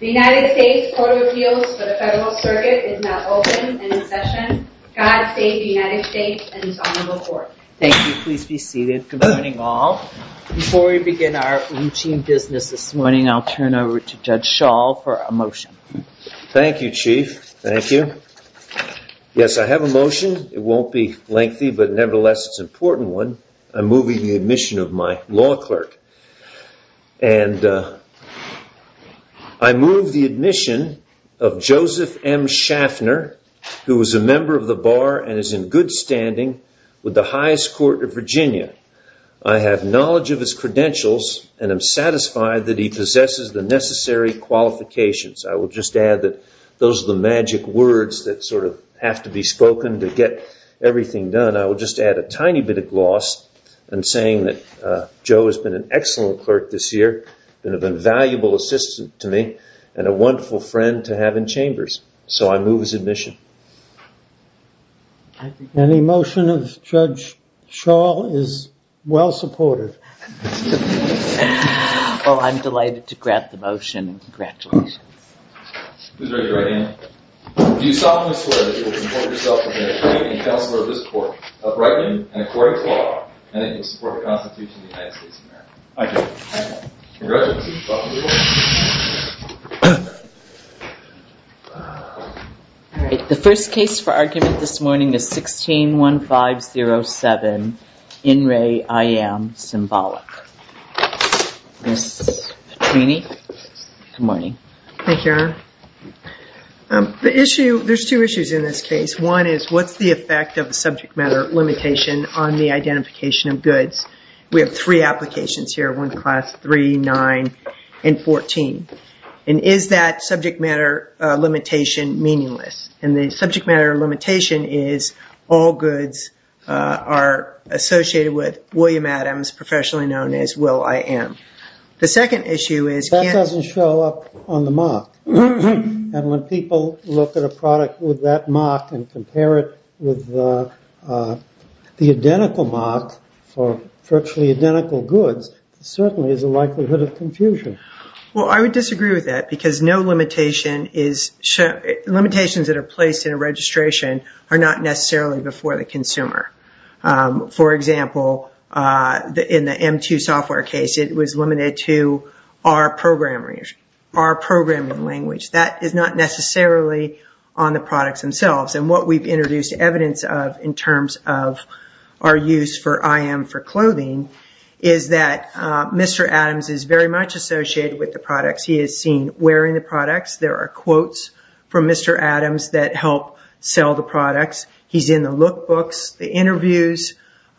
The United States Court of Appeals for the Federal Circuit is now open and in session. Before we begin our business this morning, I'll turn it over to Judge Schall for a motion. Thank you, Chief. Thank you. Yes, I have a motion. It won't be lengthy, but nevertheless it's an important one. I'm moving the admission of my law clerk. And I move the admission of Joseph M. Schaffner, who is a member of the Bar and is in good standing with the highest court of Virginia. I have knowledge of his credentials and am satisfied that he possesses the necessary qualifications. I will just add that those are the magic words that sort of have to be spoken to get everything done. I will just add a tiny bit of gloss in saying that Joe has been an excellent clerk this year, been of invaluable assistance to me, and a wonderful friend to have in Chambers. So I move his admission. Any motion of Judge Schall is well supported. Well, I'm delighted to grant the motion. Congratulations. Who's ready to write in? Do you solemnly swear that you will comport yourself as an attorney and counselor of this court, uprightly and according to law, and that you will support the Constitution of the United States of America? I do. Congratulations. The first case for argument this morning is 16-1507, In Re, I Am, Symbolic. Ms. Petrini? Good morning. Thank you, Aaron. The issue, there's two issues in this case. One is what's the effect of the subject matter limitation on the identification of goods? We have three applications here, one class 3, 9, and 14. Is that subject matter limitation meaningless? The subject matter limitation is all goods are associated with William Adams, professionally known as Will. I. Am. The second issue is... That doesn't show up on the mock. When people look at a product with that mock and compare it with the identical mock for virtually identical goods, there certainly is a likelihood of confusion. Well, I would disagree with that because no limitation is... Limitations that are placed in a registration are not necessarily before the consumer. For example, in the M2 software case, it was limited to R programming language. That is not necessarily on the products themselves. What we've introduced evidence of in terms of our use for I. Am. for clothing is that Mr. Adams is very much associated with the products. He is seen wearing the products. There are quotes from Mr. Adams that help sell the products. He's in the look books, the interviews, in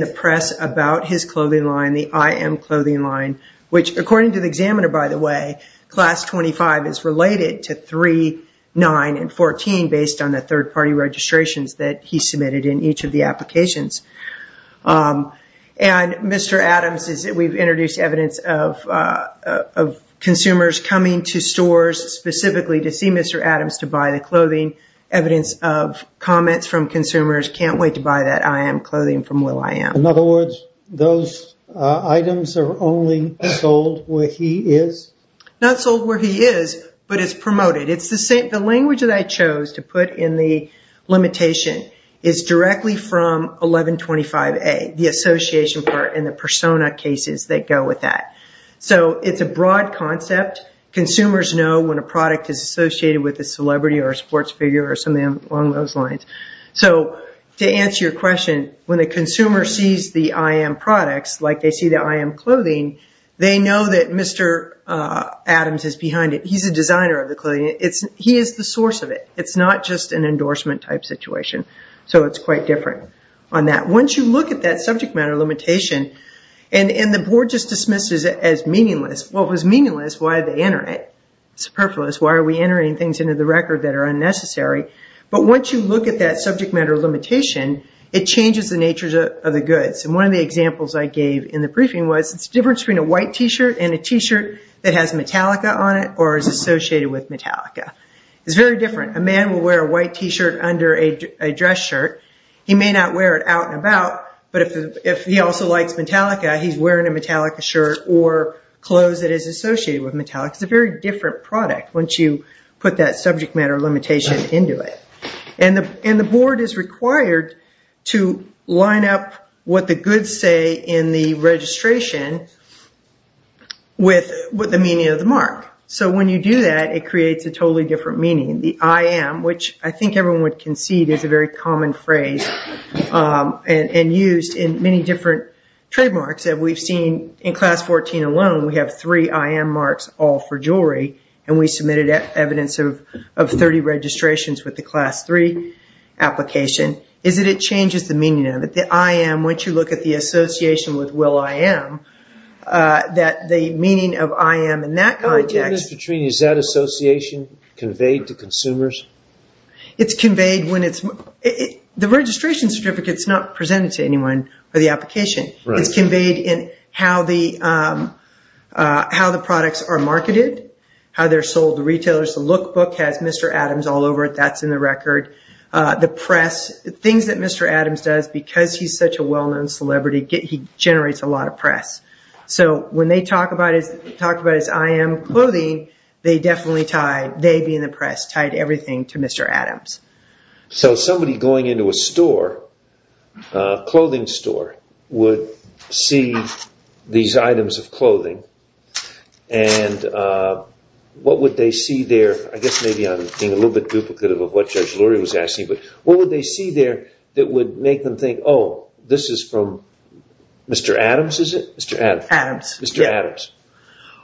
the press about his clothing line, the I. Am. clothing line, which according to the examiner, by the way, class 25 is related to 3, 9, and 14 based on the third party registrations that he submitted in each of the applications. Mr. Adams is... We've introduced evidence of consumers coming to stores specifically to see Mr. Adams to buy the clothing, evidence of comments from consumers, can't wait to buy that I. Am. clothing from Will. I. Am. In other words, those items are only sold where he is? Not sold where he is, but it's promoted. The language that I chose to put in the limitation is directly from 1125A, the association part and the persona cases that go with that. It's a broad concept. Consumers know when a product is associated with a celebrity or a sports player. When they see the I. Am. products, like they see the I. Am. clothing, they know that Mr. Adams is behind it. He's a designer of the clothing. He is the source of it. It's not just an endorsement type situation, so it's quite different on that. Once you look at that subject matter limitation, and the board just dismisses it as meaningless. Well, if it's meaningless, why did they enter it? It's superfluous. Why are we entering things into the record that are unnecessary? But once you look at that subject matter limitation, it changes the nature of the goods. One of the examples I gave in the briefing was it's different between a white T-shirt and a T-shirt that has Metallica on it or is associated with Metallica. It's very different. A man will wear a white T-shirt under a dress shirt. He may not wear it out and about, but if he also likes Metallica, he's wearing a Metallica shirt or clothes that is associated with Metallica. It's a very different product once you put that subject matter limitation into it. The board is required to line up what the goods say in the registration with the meaning of the mark. When you do that, it creates a totally different meaning. The I.M., which I think everyone would concede is a very common phrase and used in many different trademarks that we've seen. In class 14 alone, we have three I.M. marks all for jewelry, and we submitted evidence of 30 registrations with the class three application. It changes the meaning of it. The I.M., once you look at the association with Will.I.M., the meaning of I.M. in that context... Is that association conveyed to consumers? It's conveyed when it's... The registration certificate is not presented to anyone for the application. It's conveyed in how the products are marketed, how they're sold to retailers. The look book has Mr. Adams all over it. That's in the record. The press, things that Mr. Adams does, because he's such a well-known celebrity, he generates a lot of press. When they talk about his I.M. clothing, they definitely tie, they being the press, tied everything to Mr. Adams. Somebody going into a store, a clothing store, would see these items of clothing. What would they see there? I guess maybe I'm being a little bit duplicative of what Judge Lurie was asking, but what would they see there that would make them think, oh, this is from Mr. Adams, is it? Mr. Adams. Adams, yeah. Mr. Adams,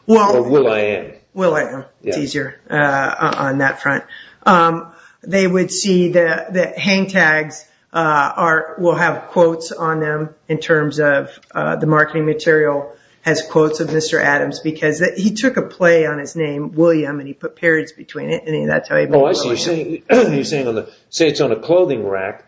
or Will.I.M. Will.I.M., it's easier on that front. They would see that hang tags will have quotes on them in terms of the marketing material has quotes of Mr. Adams because he took a quote and he put periods between it and that's how he made it work. Oh, I see. You're saying, say it's on a clothing rack,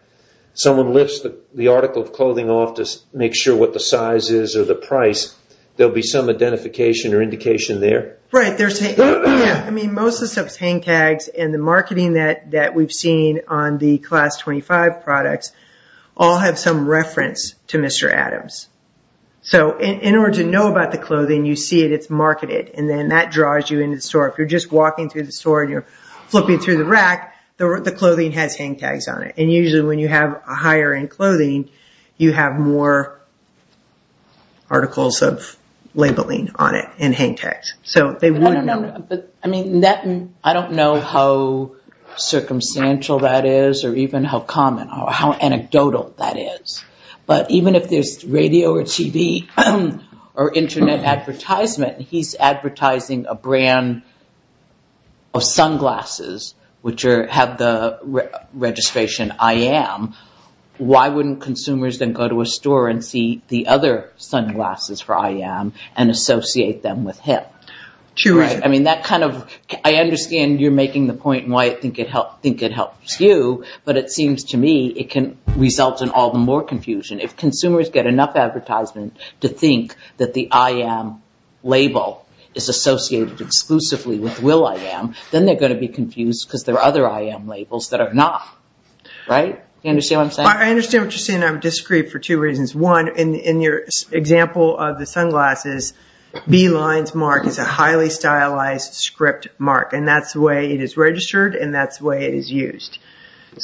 someone lifts the article of clothing off to make sure what the size is or the price, there'll be some identification or indication there? Right. Most of the stuff is hang tags and the marketing that we've seen on the Class 25 products all have some reference to Mr. Adams. In order to know about the clothing, you see that it's marketed and then that draws you into the store. If you're just walking through the store and you're flipping through the rack, the clothing has hang tags on it. Usually, when you have a higher-end clothing, you have more articles of labeling on it and hang tags. I don't know how circumstantial that is or even how common or how anecdotal that is, but even if there's radio or TV or internet advertisement, he's advertising a brand of sunglasses which have the registration, I am. Why wouldn't consumers then go to a store and see the other sunglasses for I am and associate them with him? True. I mean, I understand you're making the point and why I think it helps you, but it seems to me it can result in all the more confusion. If consumers get enough advertisement to think that the I am label is associated exclusively with Will.I.Am, then they're going to be confused because there are other I am labels that are not. Right? Do you understand what I'm saying? I understand what you're saying. I would disagree for two reasons. One, in your example of the sunglasses, B lines mark is a highly stylized script mark and that's the way it is registered and that's the way it is used. In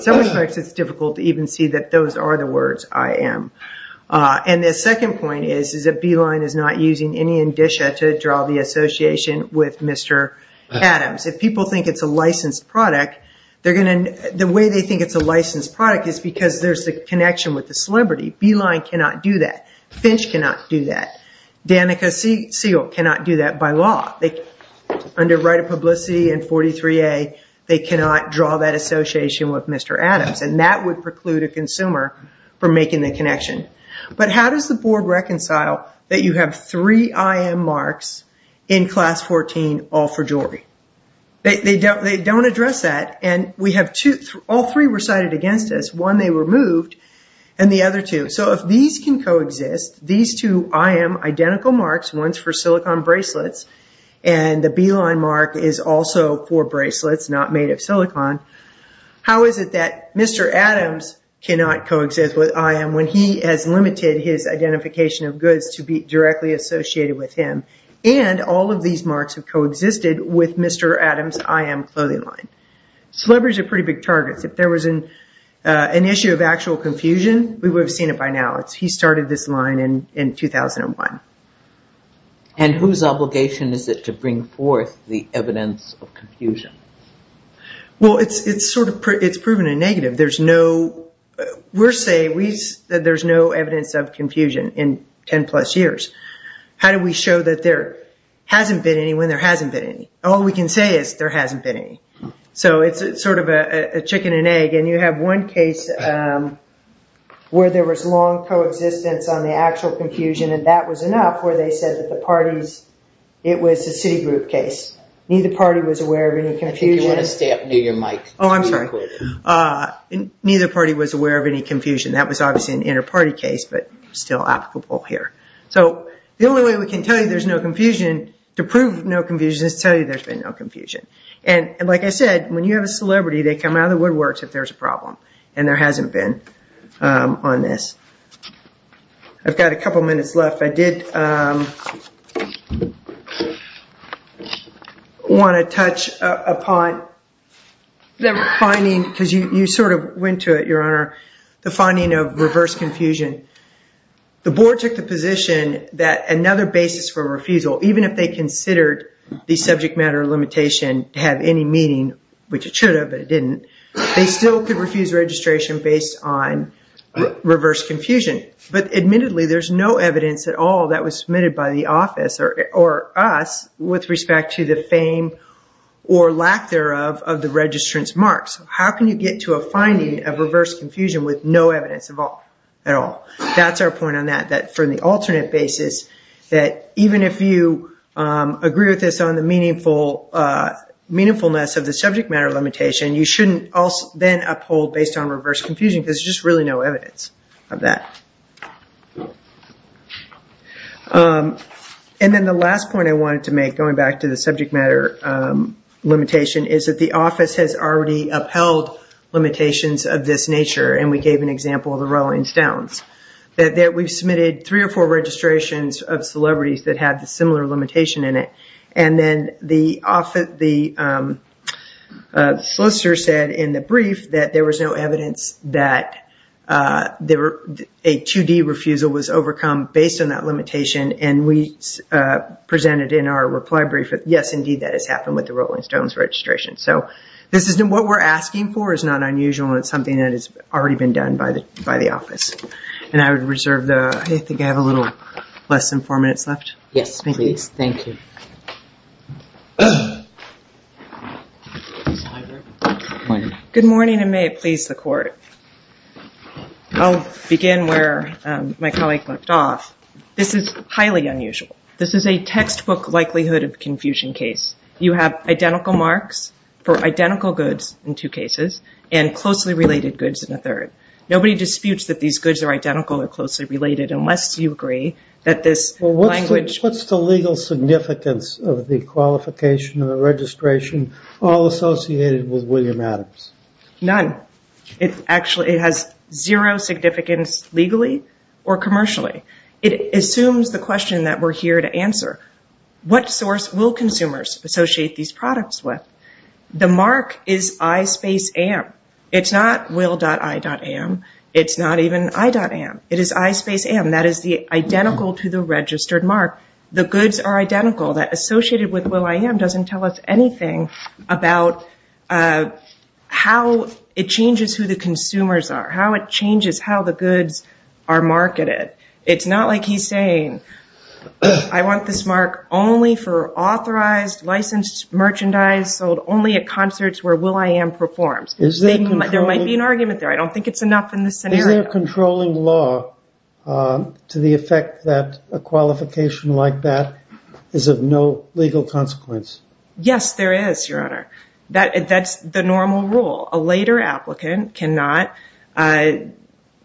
some respects, it's difficult to even see that those are the words I am. The second point is that B line is not using any indicia to draw the association with Mr. Adams. If people think it's a licensed product, the way they think it's a licensed product is because there's the connection with the celebrity. B line cannot do that. Finch cannot do that. Danica Segal cannot do that by law. Under right of publicity and 43A, they cannot draw that association with Mr. Adams and that would preclude a consumer from making the connection. How does the board reconcile that you have three I am marks in class 14 all for jewelry? They don't address that and all three were cited against us. One, they were moved and the other two. If these can coexist, these two I am identical marks, one's for silicon bracelets and the B line mark is also for bracelets, not made of silicon, how is it that Mr. Adams cannot coexist with I am when he has limited his identification of goods to be directly associated with him and all of these marks have coexisted with Mr. Adams' I am clothing line? Celebrities are pretty big targets. If there was an issue of actual confusion, we would have seen it by now. He started this line in 2001. Whose obligation is it to bring forth the evidence of confusion? It's proven a negative. We're saying there's no evidence of confusion in 10 plus years. How do we show that there hasn't been any when there hasn't been any? All we can say is there hasn't been any. It's sort of a chicken and egg. You have one case where there was long coexistence on the actual confusion and that was enough where they said the parties, it was a city group case. Neither party was aware of any confusion. Neither party was aware of any confusion. That was obviously an inner party case but still applicable here. The only way we can tell you there's no confusion to prove no confusion. Like I said, when you have a celebrity, they come out of the woodworks if there's a problem and there hasn't been on this. I've got a couple minutes left. I did want to touch upon the finding because you sort of went to it, your honor, the finding of reverse confusion. The board took the position that another basis for refusal, even if they considered the subject matter limitation to have any meaning, which it should have but it didn't, they still could refuse registration based on reverse confusion. Admittedly, there's no evidence at all that was submitted by the office or us with respect to the fame or lack thereof of the registrant's marks. How can you get to a finding of reverse confusion? There's no evidence at all. That's our point on that, that for the alternate basis that even if you agree with us on the meaningfulness of the subject matter limitation, you shouldn't then uphold based on reverse confusion because there's just really no evidence of that. Then the last point I wanted to make, going back to the subject matter limitation, is that the office has already upheld limitations of this nature. We gave an example of the Rolling Stones. We submitted three or four registrations of celebrities that had a similar limitation in it. Then the solicitor said in the brief that there was no evidence that a 2D refusal was overcome based on that limitation. We presented in our reply brief, yes, indeed that has happened with the Rolling Stones registration. What we're asking for is not unusual. It's something that has already been done by the office. I think I have a little less than four minutes left. Good morning and may it please the court. I'll begin where my colleague left off. This is highly unusual. This is a textbook likelihood of confusion case. You have identical marks for identical goods in two cases and closely related goods in a third. Nobody disputes that these goods are identical or closely related unless you agree that this language- What's the legal significance of the qualification of a registration all associated with William Adams? None. It has zero significance legally or commercially. It assumes the question that we're here to answer. What source will consumers associate these products with? The mark is I space M. It's not will.I.M. It's not even I.M. It is I space M. That is the identical to the registered mark. The goods are identical. That associated with will.I.M. doesn't tell us anything about how it changes who the consumers are, how it changes how the goods are marketed. It's not like he's saying I want this mark only for authorized licensed merchandise sold only at concerts where will.I.M. performs. There might be an argument there. I don't think it's enough in this scenario. Is there a controlling law to the effect that a qualification like that is of no legal consequence? Yes, there is, Your Honor. That's the normal rule. A later applicant cannot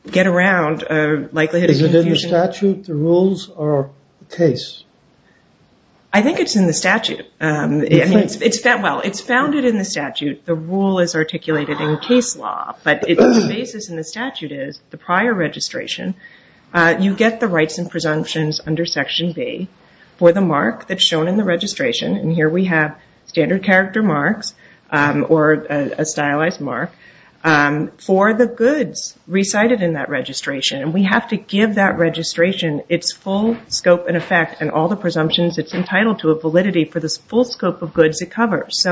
get around a likelihood of confusion. Is it in the statute, the rules, or the case? I think it's in the statute. It's founded in the statute. The rule is articulated in case law. The basis in the statute is the prior registration. You get the rights and registration. Here we have standard character marks or a stylized mark for the goods recited in that registration. We have to give that registration its full scope and effect and all the presumptions it's entitled to a validity for the full scope of goods it covers.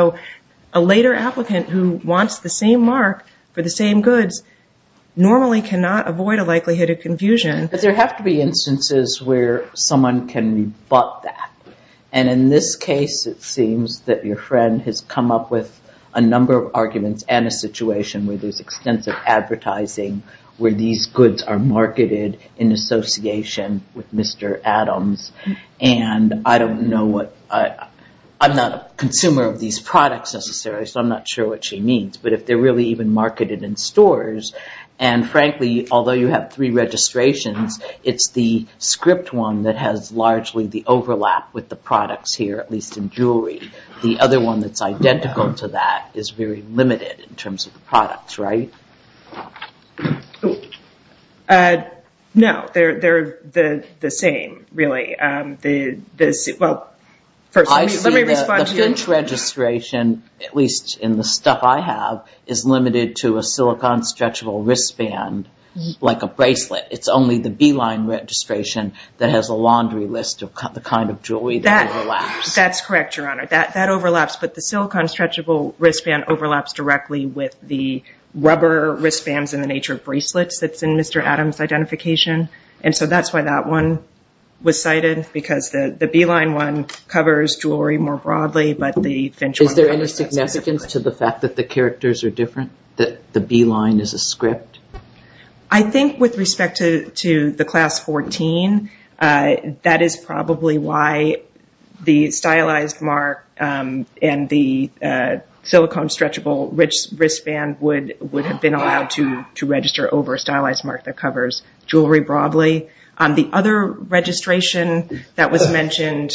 A later applicant who wants the same mark for the same goods normally cannot avoid a likelihood of confusion. There have to be instances where someone can rebut that. In this case, it seems that your friend has come up with a number of arguments and a situation where there's extensive advertising where these goods are marketed in association with Mr. Adams. I'm not a consumer of these products necessarily, so I'm not sure what she means, but if they're really even marketed in stores, and frankly, although you have three registrations, it's the script one that has largely the overlap with the products here, at least in jewelry. The other one that's identical to that is very limited in terms of the products, right? No, they're the same, really. Well, first, let me respond to your question. At least in the stuff I have is limited to a silicone stretchable wristband like a bracelet. It's only the Beeline registration that has a laundry list of the kind of jewelry that overlaps. That's correct, Your Honor. That overlaps, but the silicone stretchable wristband overlaps directly with the rubber wristbands in the nature of bracelets that's in Mr. Adams' identification. That's why that one was cited because the Beeline one covers jewelry more broadly, but the Finch one- Is there any significance to the fact that the characters are different, that the Beeline is a script? I think with respect to the Class 14, that is probably why the stylized mark and the silicone stretchable wristband would have been allowed to register over a stylized mark that covers jewelry broadly. The other registration that was mentioned,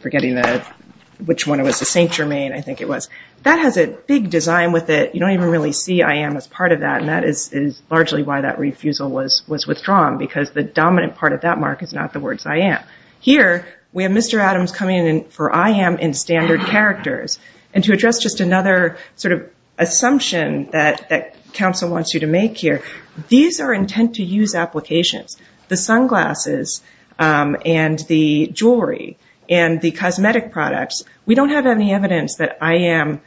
forgetting which one it was, the Saint Germain, I think it was, that has a big design with it. You don't even really see I am as part of that, and that is largely why that refusal was withdrawn because the dominant part of that mark is not the words I am. Here, we have Mr. Adams coming in for I am in standard characters. To address just another assumption that counsel wants you to make here, these are intent to use applications. The sunglasses and the jewelry and the cosmetic products, we don't have any evidence that I am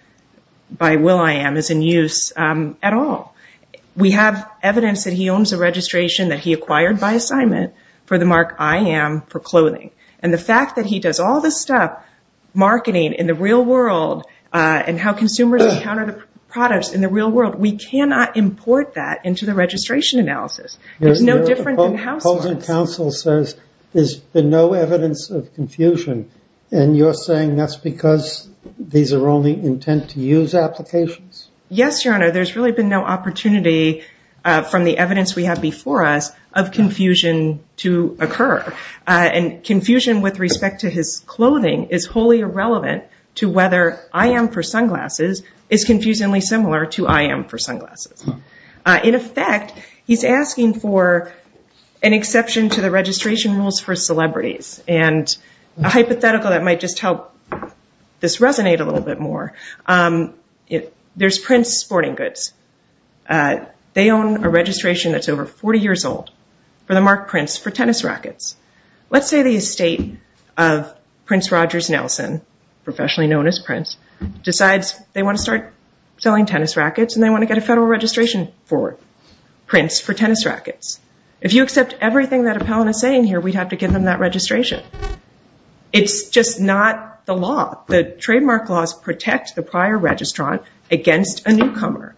by will I am is in use at all. We have evidence that he owns a registration that he acquired by assignment for the mark I am for clothing. The fact that he does all this stuff, marketing in the real world, and how consumers encounter the products in the real world, we cannot import that into the registration analysis. It is no different than households. The opposing counsel says there has been no evidence of confusion, and you are saying that is because these are only intent to use applications? Yes, Your Honor. There has really been no opportunity from the evidence we have before us of confusion to occur. Confusion with respect to his clothing is wholly irrelevant to whether I am for sunglasses is confusingly similar to I am for sunglasses. In effect, he is asking for an exception to the registration rules for celebrities. A hypothetical that might just help this resonate a little bit more, there is Prince Sporting Sold for the mark Prince for tennis rackets. Let's say the estate of Prince Rogers Nelson, professionally known as Prince, decides they want to start selling tennis rackets and they want to get a federal registration for Prince for tennis rackets. If you accept everything that appellant is saying here, we would have to give them that registration. It's just not the law. The trademark laws protect the prior registrant against a newcomer.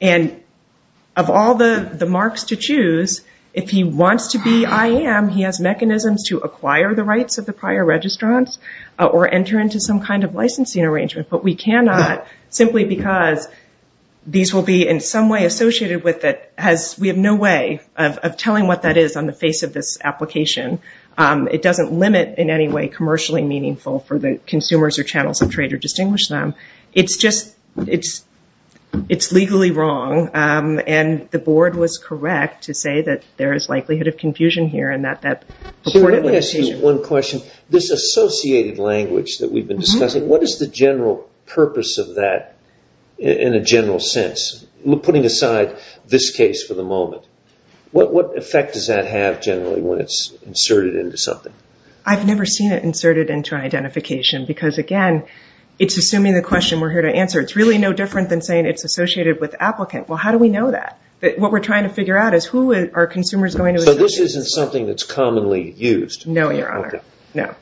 Of all the marks to choose, if he wants to be I am, he has mechanisms to acquire the rights of the prior registrants or enter into some kind of licensing arrangement. We cannot simply because these will be in some way associated with it. We have no way of telling what that is on the face of this application. It doesn't limit in any way commercially meaningful for the consumers or channels of trade to distinguish them. It's legally wrong and the board was correct to say that there is likelihood of confusion here. Let me ask you one question. This associated language that we have been discussing, what is the general purpose of that in a general sense? Putting aside this case for the moment, what effect does that have generally when it is inserted into something? I've never seen it inserted into an identification because, again, it's assuming the question we're here to answer. It's really no different than saying it's associated with applicant. How do we know that? What we're trying to figure out is who are consumers going to associate with? This isn't something that's commonly used? No, Your Honor.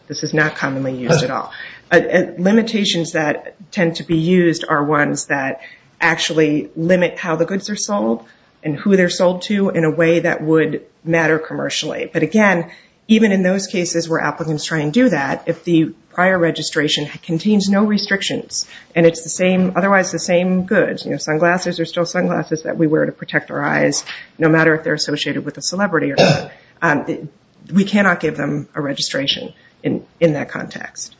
This is not commonly used at all. Limitations that tend to be used are ones that actually limit how the goods are sold and who they're sold to in a way that would matter commercially. Again, even in those cases where applicants try and do that, if the prior registration contains no restrictions and it's otherwise the same goods, sunglasses are still sunglasses that we wear to protect our eyes, no matter if they're associated with a celebrity or not, we cannot give them a registration in that context.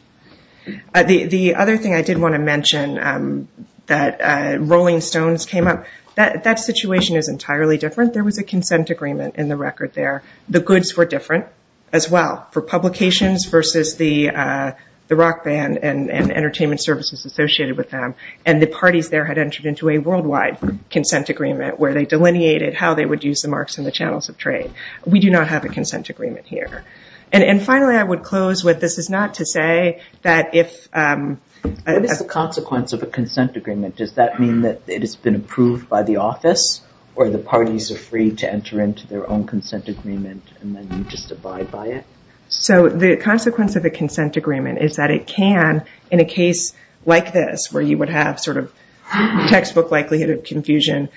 The other thing I did want to mention that Rolling Stones came up, that situation is in the record there. The goods were different as well for publications versus the rock band and entertainment services associated with them. The parties there had entered into a worldwide consent agreement where they delineated how they would use the marks in the channels of trade. We do not have a consent agreement here. Finally, I would close with this is not to say that if- What is the consequence of a consent agreement? Does that mean that it has been approved by the office or the parties are free to enter into their own consent agreement and then you just abide by it? The consequence of a consent agreement is that it can, in a case like this where you would have textbook likelihood of confusion,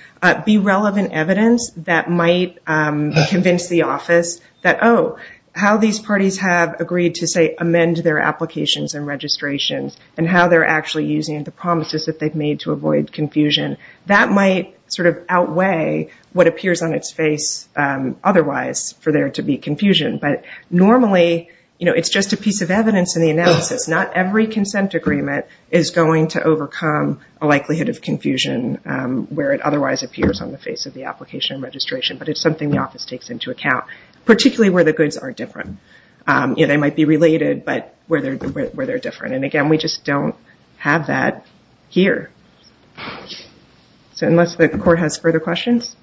be relevant evidence that might convince the office that, oh, how these parties have agreed to say amend their applications and registrations and how they're actually using the promises that they've made to avoid confusion, that might outweigh what appears on its face otherwise for there to be confusion. Normally, it's just a piece of evidence in the analysis. Not every consent agreement is going to overcome a likelihood of confusion where it otherwise appears on the face of the application and registration, but it's something the office takes into account, particularly where the goods are different. They might be related, but where they're different. Again, we just don't have that here. Unless the court has further questions.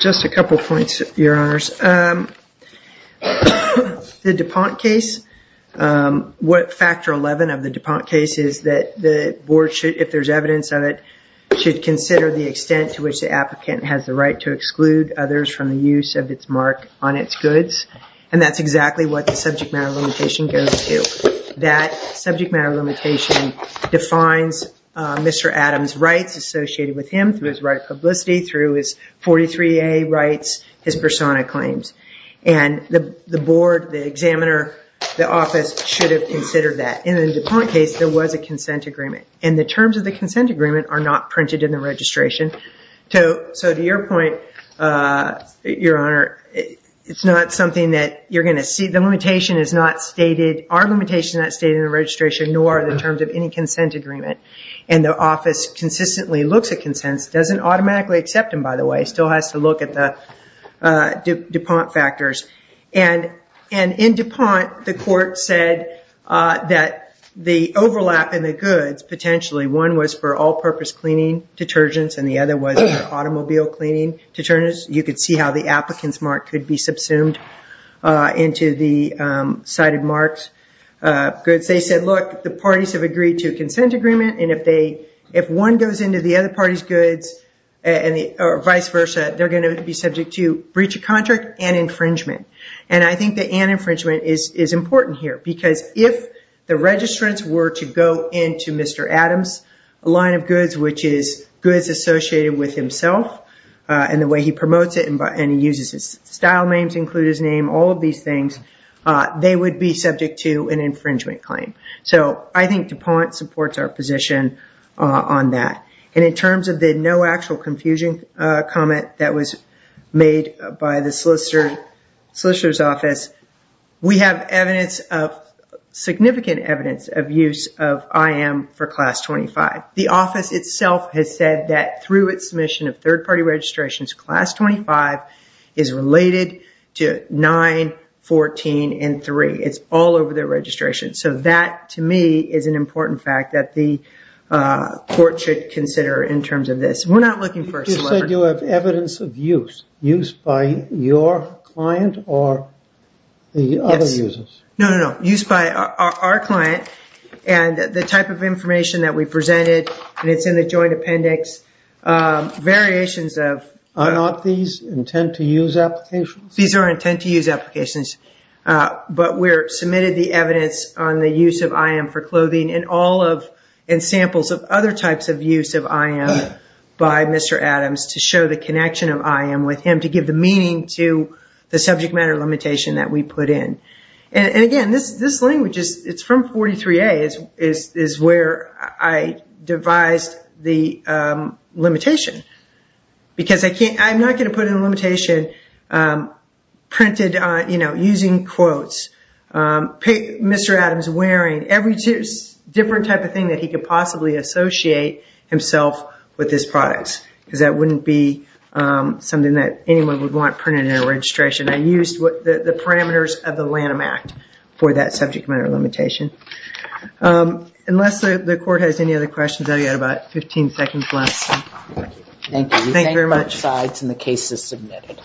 Just a couple of points, Your Honors. The DuPont case, what factor 11 of the DuPont case is that the board should, if there's evidence of it, should consider the extent to which the applicant has the right to exclude others from the use of its mark on its goods. That's exactly what the subject matter limitation goes to. That subject matter limitation defines Mr. Adams' rights associated with him through his right of publicity, through his 43A rights, his persona claims. The board, the examiner, the office should have considered that. In the DuPont case, there was a consent agreement. The terms of the consent agreement are not printed in the registration. To your point, Your Honor, it's not something that you're going to see. The limitation is not stated, our limitation is not stated in the registration, nor are the terms of any consent agreement. The office consistently looks at consents. It doesn't automatically accept them, by the way. It still has to look at the DuPont factors. In DuPont, the court said that the overlap in the goods, potentially, one was for all-purpose cleaning detergents, and the other was for automobile cleaning detergents. You could see how the applicant's mark could be subsumed into the cited mark's goods. They said, look, the parties have agreed to a consent agreement. If one goes into the other party's goods, or vice versa, they're going to be subject to breach of contract and infringement. I think that an infringement is important here, because if the registrants were to go into Mr. Adams' line of goods, which is goods associated with himself, and the way he promotes it, and he uses his style names to include his name, all of these things, they would be subject to an infringement claim. I think DuPont supports our position on that. In terms of the no confusion comment that was made by the solicitor's office, we have evidence of, significant evidence of use of IM for Class 25. The office itself has said that through its submission of third-party registrations, Class 25 is related to 9, 14, and 3. It's all over their registration. That, to me, is an important fact that the court should consider in terms of this. We're not looking for a solicitor. You said you have evidence of use. Use by your client or the other users? No, no, no. Use by our client, and the type of information that we presented, and it's in the joint appendix, variations of... Are not these intent-to-use applications? These are intent-to-use applications, but we submitted the evidence on the use of IM for clothing and samples of other types of use of IM by Mr. Adams to show the connection of IM with him to give the meaning to the subject matter limitation that we put in. Again, this language, it's from 43A, is where I devised the limitation because I'm not going to put in a limitation printed using quotes, Mr. Adams wearing, every different type of thing that he could possibly associate himself with his products, because that wouldn't be something that anyone would want printed in a registration. I used the parameters of the Lanham Act for that subject matter limitation. Unless the court has any other questions, I've got about 15 seconds left. Thank you. Thank you very much. And the case is submitted.